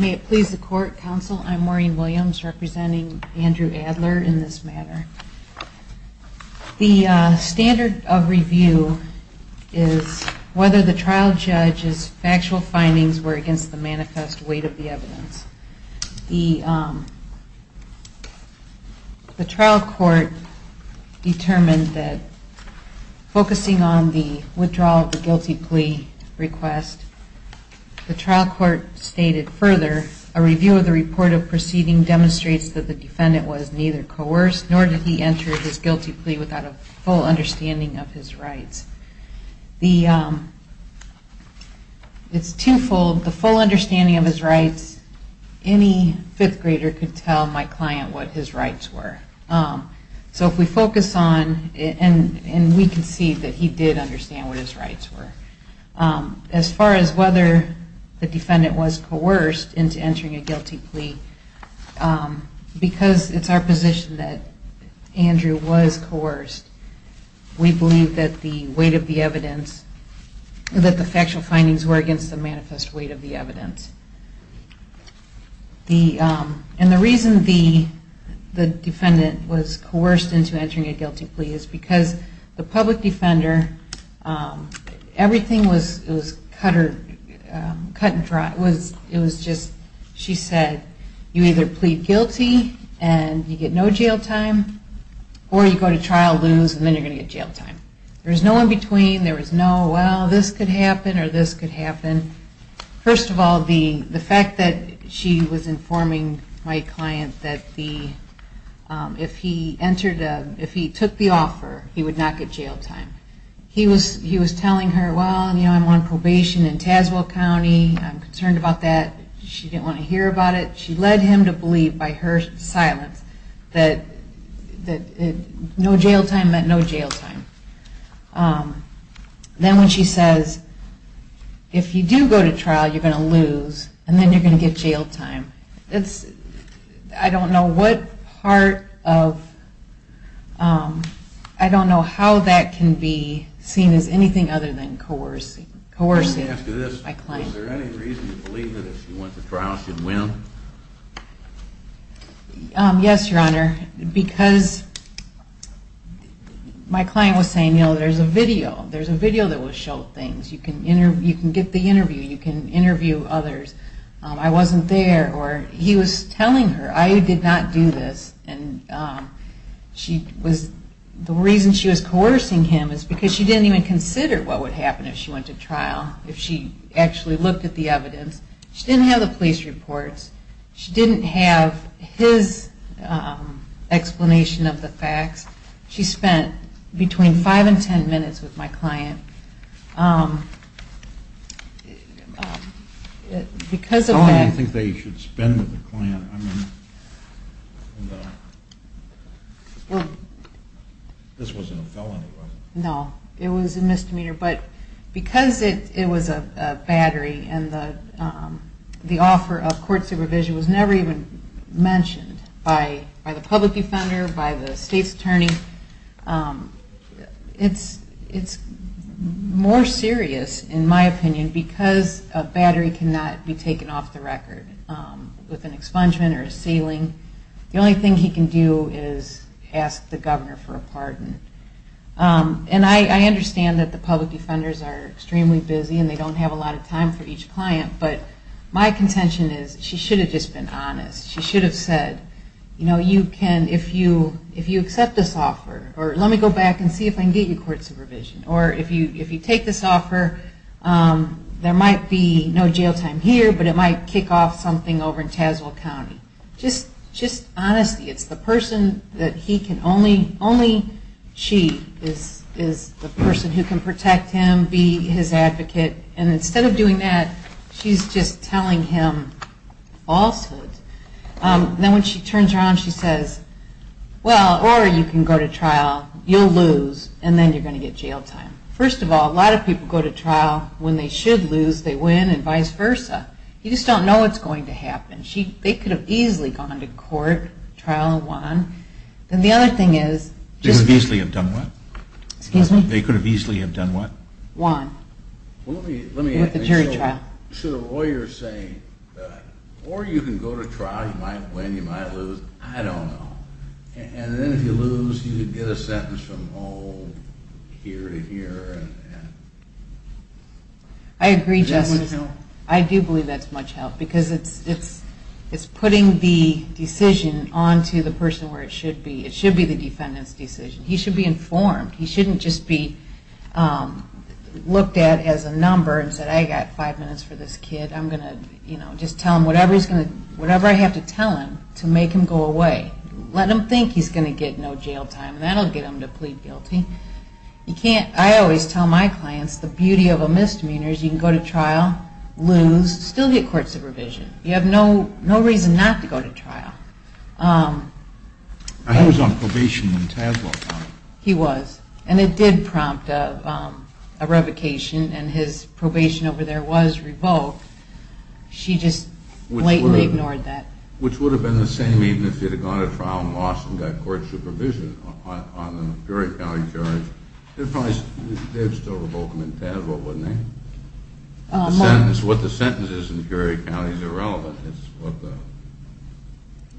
May it please the Court, Counsel, I'm Maureen Williams representing Andrew Adler in this matter. The standard of review is whether the trial judge's factual findings were against the manifest weight of the evidence. The trial court determined that focusing on the withdrawal of the guilty plea request, the trial court stated further, a review of the report of the proceeding demonstrates that the defendant was neither coerced nor did he enter his guilty plea without a full understanding of his rights. It's twofold, the full understanding of his rights, any fifth grader could tell my client what his rights were. So if we focus on, and we can see that he did understand what his rights were. As far as whether the defendant was coerced into entering a guilty plea, because it's our position that the defendant was not coerced into entering a guilty plea, the defendant was not coerced into entering a guilty plea. We believe that Andrew was coerced. We believe that the weight of the evidence, that the factual findings were against the manifest weight of the evidence. And the reason the defendant was coerced into entering a guilty plea is because the public defender, everything was cut and dry. It was just, she said, you either plead guilty and you get no jail time, or you plead guilty and you get no jail time. And the defendant was not coerced into entering a guilty plea. Or you go to trial, lose, and then you're going to get jail time. There was no in between. There was no, well, this could happen or this could happen. First of all, the fact that she was informing my client that if he entered, if he took the offer, he would not get jail time. He was telling her, well, you know, I'm on probation in Tazewell County, I'm concerned about that. She didn't want to hear about it. She led him to believe by her silence that no jail time meant no jail time. Then when she says, if you do go to trial, you're going to lose, and then you're going to get jail time. It's, I don't know what part of, I don't know how that can be seen as anything other than coercive. My client was saying, you know, there's a video. There's a video that will show things. You can get the interview. You can interview others. I wasn't there. Or he was telling her, I did not do this. And she was, the reason she was coercing him is because she didn't even consider what would happen if she went to trial. If she actually looked at the evidence. She didn't have the police reports. She didn't have his explanation of the facts. She spent between five and ten minutes with my client. Because of that... No, it was a misdemeanor. But because it was a battery and the offer of court supervision was never even mentioned by the public defender, by the state's attorney, it's more serious, in my opinion, because a battery cannot be taken off the record. The only thing he can do is ask the governor for a pardon. And I understand that the public defenders are extremely busy and they don't have a lot of time for each client, but my contention is she should have just been honest. She should have said, you know, you can, if you accept this offer, or let me go back and see if I can get you court supervision. Or if you take this offer, there might be no jail time here, but it might kick off something over in Tazewell County. Just honesty. It's the person that he can only, only she is the person who can protect him, be his advocate. And instead of doing that, she's just telling him falsehoods. Then when she turns around, she says, well, or you can go to trial, you'll lose, and then you're going to get jail time. First of all, a lot of people go to trial, when they should lose, they win, and vice versa. You just don't know what's going to happen. They could have easily gone to court, trial and won. Then the other thing is, they could have easily have done what? Won. With a jury trial. Should a lawyer say, or you can go to trial, you might win, you might lose, I don't know. And then if you lose, you could get a sentence from here to here. I agree, Justin. I do believe that's much help. Because it's putting the decision onto the person where it should be. It should be the defendant's decision. He should be informed. He shouldn't just be looked at as a number and say, I've got five minutes for this kid. I'm going to just tell him whatever I have to tell him to make him go away. Let him think he's going to get no jail time. That will get him to plead guilty. I always tell my clients the beauty of a misdemeanor is you can go to trial, lose, still get court supervision. You have no reason not to go to trial. I was on probation in Tazewell County. He was. And it did prompt a revocation and his probation over there was revoked. She just blatantly ignored that. Which would have been the same even if he had gone to trial and lost and got court supervision on the Peoria County charge. They'd still revoke him in Tazewell, wouldn't they? What the sentence is in Peoria County is irrelevant.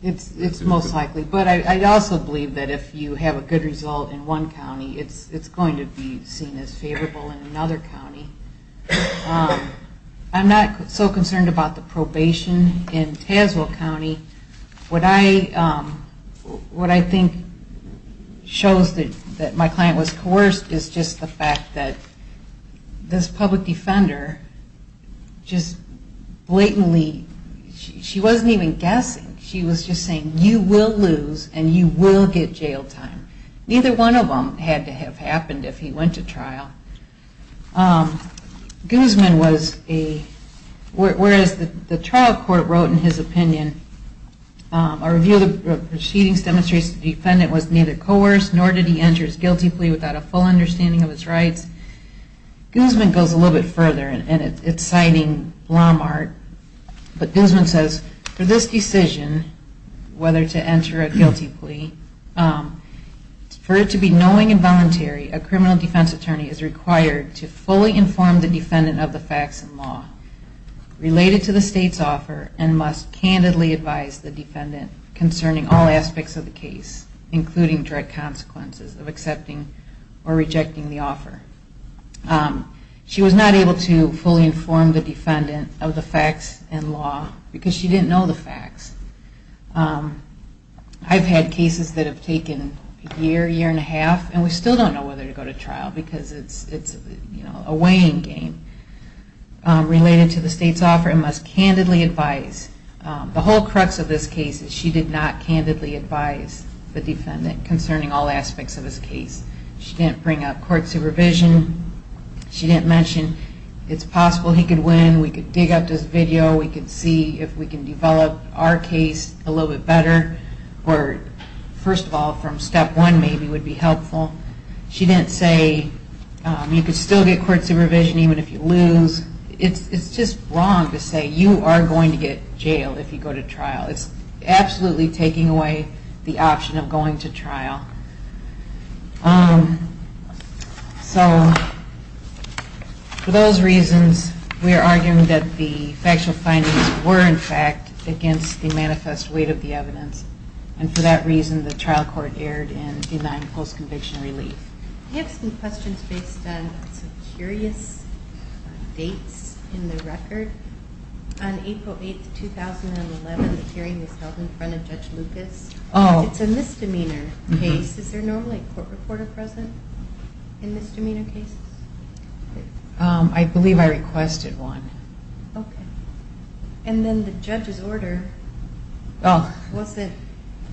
It's most likely. But I also believe that if you have a good result in one county, it's going to be seen as favorable in another county. I'm not so concerned about the probation in Tazewell County. What I think shows that my client was coerced is just the fact that this public defender just blatantly, she wasn't even guessing. She was just saying, you will lose and you will get jail time. Neither one of them had to have happened if he went to trial. Guzman was a, whereas the trial court wrote in his opinion, a review of the proceedings demonstrates the defendant was neither coerced nor did he enter his guilty plea without a full understanding of his rights. Guzman goes a little bit further and it's citing Walmart. But Guzman says, for this decision, whether to enter a guilty plea, for it to be knowing and voluntary, a criminal defense attorney is required to fully inform the defendant of the facts and law related to the state's offer and must candidly advise the defendant concerning all aspects of the case, including direct consequences of accepting or rejecting the offer. She was not able to fully inform the defendant of the facts and law because she didn't know the facts. I've had cases that have taken a year, year and a half, and we still don't know whether to go to trial because it's a weighing game related to the state's offer and must candidly advise. The whole crux of this case is she did not candidly advise the defendant concerning all aspects of his case. She didn't bring up court supervision, she didn't mention it's possible he could win, we could dig up this video, we could see if we can develop our case a little bit better, or first of all from step one maybe would be helpful. She didn't say you could still get court supervision even if you lose. It's just wrong to say you are going to get jail if you go to trial. It's absolutely taking away the option of going to trial. So for those reasons we are arguing that the factual findings were in fact against the manifest weight of the evidence and for that reason the trial court erred in denying post-conviction relief. I have some questions based on some curious dates in the record. On April 8, 2011 the hearing was held in front of Judge Lucas. It's a misdemeanor case. Is there normally a court reporter present in misdemeanor cases? I believe I requested one. And then the judge's order wasn't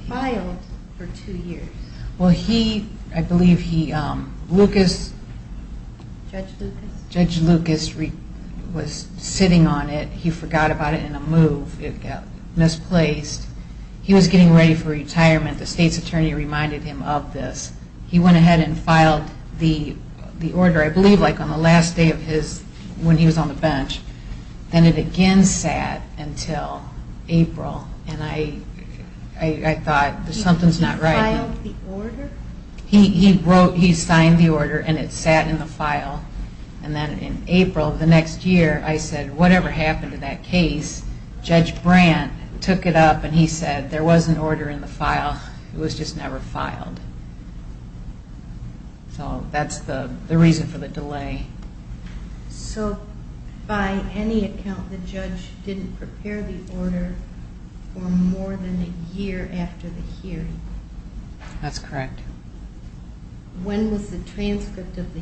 filed for two years. I believe Judge Lucas was sitting on it. He forgot about it in a move. It got misplaced. He was getting ready for retirement. The state's attorney reminded him of this. He went ahead and filed the order I believe on the last day when he was on the bench. Then it again sat until April and I thought something's not right. He signed the order and it sat in the file and then in April the next year I said whatever happened to that case, Judge Brandt took it up and he said there was an order in the file. It was just never filed. So that's the reason for the delay. So by any account the judge didn't prepare the order for more than a year after the hearing? That's correct. The transcript of the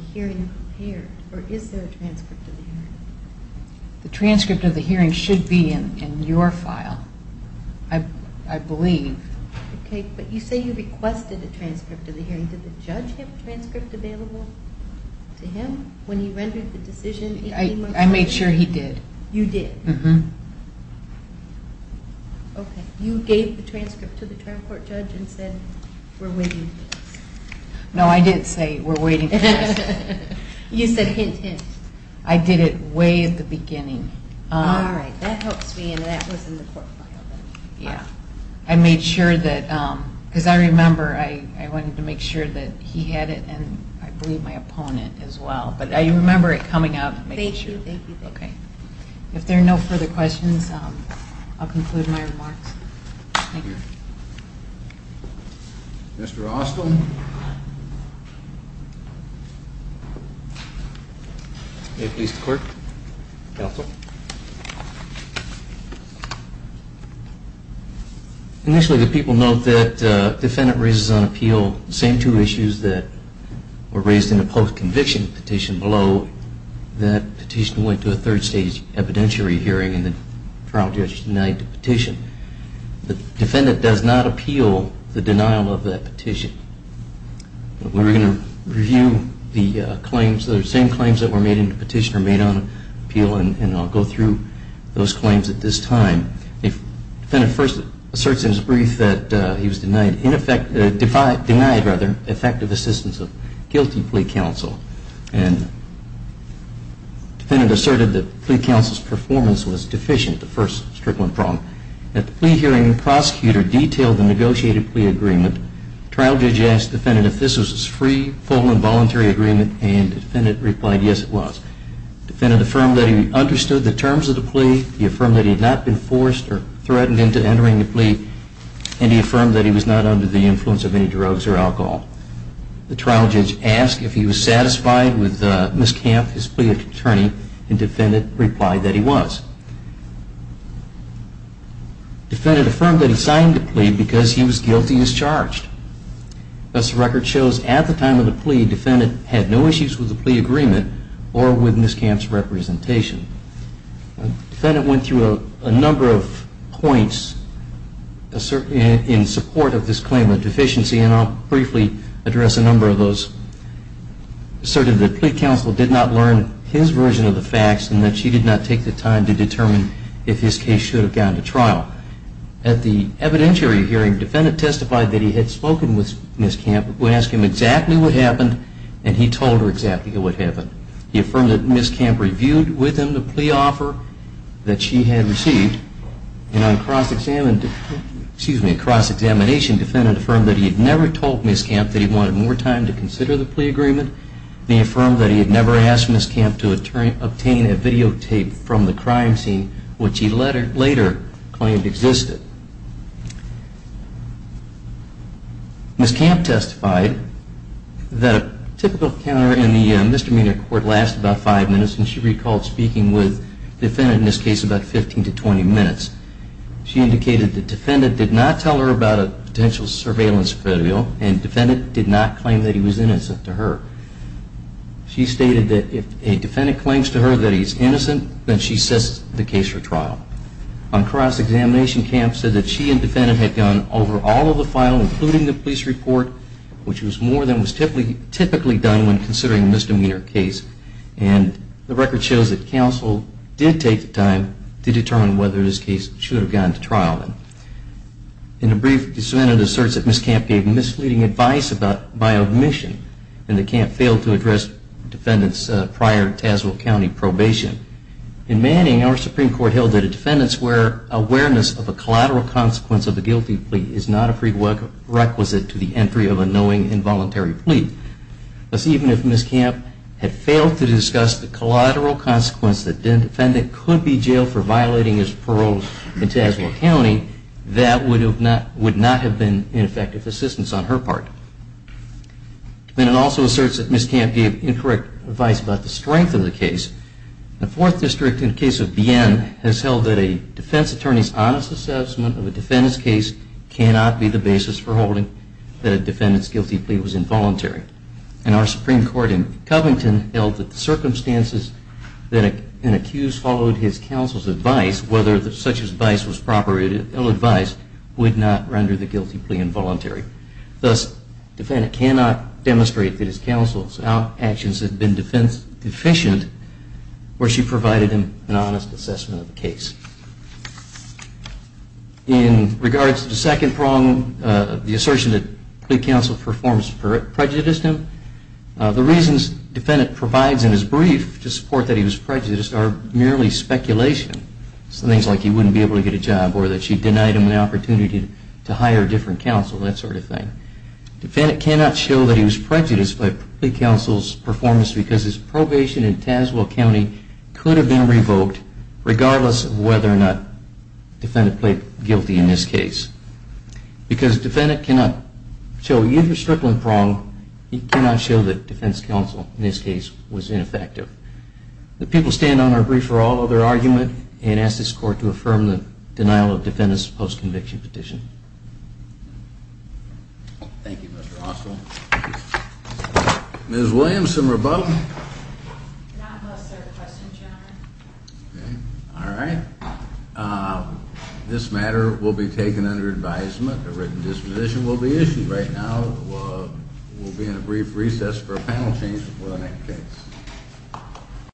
hearing should be in your file, I believe. But you say you requested a transcript of the hearing. Did the judge have a transcript available to him when he rendered the decision? I made sure he did. You gave the transcript to the trial court judge and said we're waiting for this? No, I didn't say we're waiting for this. You said hint, hint. I did it way at the beginning. I wanted to make sure he had it and I believe my opponent as well. If there are no further questions, I'll conclude my remarks. Thank you. Initially the people note that defendant raises on appeal the same two issues that were raised in the post-conviction petition below, that petition went to a third stage evidentiary hearing and the trial judge denied the petition. The defendant does not appeal the denial of that petition. We're going to review the claims, the same claims that were made in the petition are made on appeal and I'll go through those claims at this time. The defendant first asserts in his brief that he was denied effective assistance of guilty plea counsel. The defendant asserted that plea counsel's performance was deficient, the first problem. At the plea hearing, the prosecutor detailed the negotiated plea agreement. The trial judge asked the defendant if this was a free, full and voluntary agreement and the defendant replied yes, it was. The defendant affirmed that he understood the terms of the plea, he affirmed that he had not been forced or threatened into entering the plea and he affirmed that he was not under the influence of any drugs or alcohol. The trial judge asked if he was satisfied with Ms. Camp, his plea attorney, and the defendant replied that he was. The defendant affirmed that he signed the plea because he was guilty as charged. As the record shows, at the time of the plea, the defendant had no issues with the plea agreement or with Ms. Camp's representation. The defendant went through a number of points in support of this claim of deficiency and I'll briefly address a number of those. He asserted that plea counsel did not learn his version of the facts and that she did not take the time to determine if his case should have gone to trial. At the evidentiary hearing, the defendant testified that he had spoken with Ms. Camp. Ms. Camp asked him exactly what happened and he told her exactly what happened. He affirmed that Ms. Camp reviewed with him the plea offer that she had received and on cross-examination, the defendant affirmed that he had never told Ms. Camp that he wanted more time to consider the plea agreement. He affirmed that he had never asked Ms. Camp to obtain a videotape from the crime scene, which he later claimed existed. Ms. Camp testified that a typical encounter in the misdemeanor court lasts about five minutes and she recalled speaking with the defendant in this case about 15 to 20 minutes. She indicated that the defendant did not tell her about a potential surveillance video and the defendant did not claim that he was innocent to her. She stated that if a defendant claims to her that he is innocent, then she sets the case for trial. On cross-examination, Ms. Camp said that she and the defendant had gone over all of the file, including the police report, which was more than was typically done when considering a misdemeanor case. The record shows that counsel did take the time to determine whether this case should have gone to trial. In a brief, the defendant asserts that Ms. Camp gave misleading advice by omission and that Ms. Camp failed to address the defendant's prior Tazewell County probation. In Manning, our Supreme Court held that a defendant's awareness of a collateral consequence of a guilty plea is not a prerequisite to the entry of a knowing involuntary plea. Thus, even if Ms. Camp had failed to discuss the collateral consequence that a defendant could be jailed for violating his parole in Tazewell County, that would not have been an effective assistance on her part. Then it also asserts that Ms. Camp gave incorrect advice about the strength of the case. The Fourth District, in the case of Bien, has held that a defense attorney's honest assessment of a defendant's case cannot be the basis for holding that a defendant's guilty plea was involuntary. And our Supreme Court in Covington held that the circumstances that an accused followed his counsel's advice, whether such advice was proper or ill-advised, would not render the guilty plea involuntary. Thus, the defendant cannot demonstrate that his counsel's actions have been deficient or she provided him an honest assessment of the case. In regards to the second prong, the assertion that plea counsel performs prejudice to him, the reasons the defendant provides in his brief to support that he was prejudiced are merely speculation. Things like he wouldn't be able to get a job or that she denied him an opportunity to hire a different counsel, that sort of thing. The defendant cannot show that he was prejudiced by plea counsel's performance because his probation in Tazewell County could have been revoked regardless of whether or not the defendant played guilty in this case. Because the defendant cannot show, even if the strickland prong, he cannot show that defense counsel in this case was ineffective. The people stand on our brief for all other argument and ask this court to affirm the denial of defendant's post-conviction petition. Thank you, Mr. Oswald. Ms. Williamson-Rabot? May I ask a third question, General? All right. This matter will be taken under advisement. A written disposition will be issued. Right now, we'll be in a brief recess for a panel change before the next case. Thank you.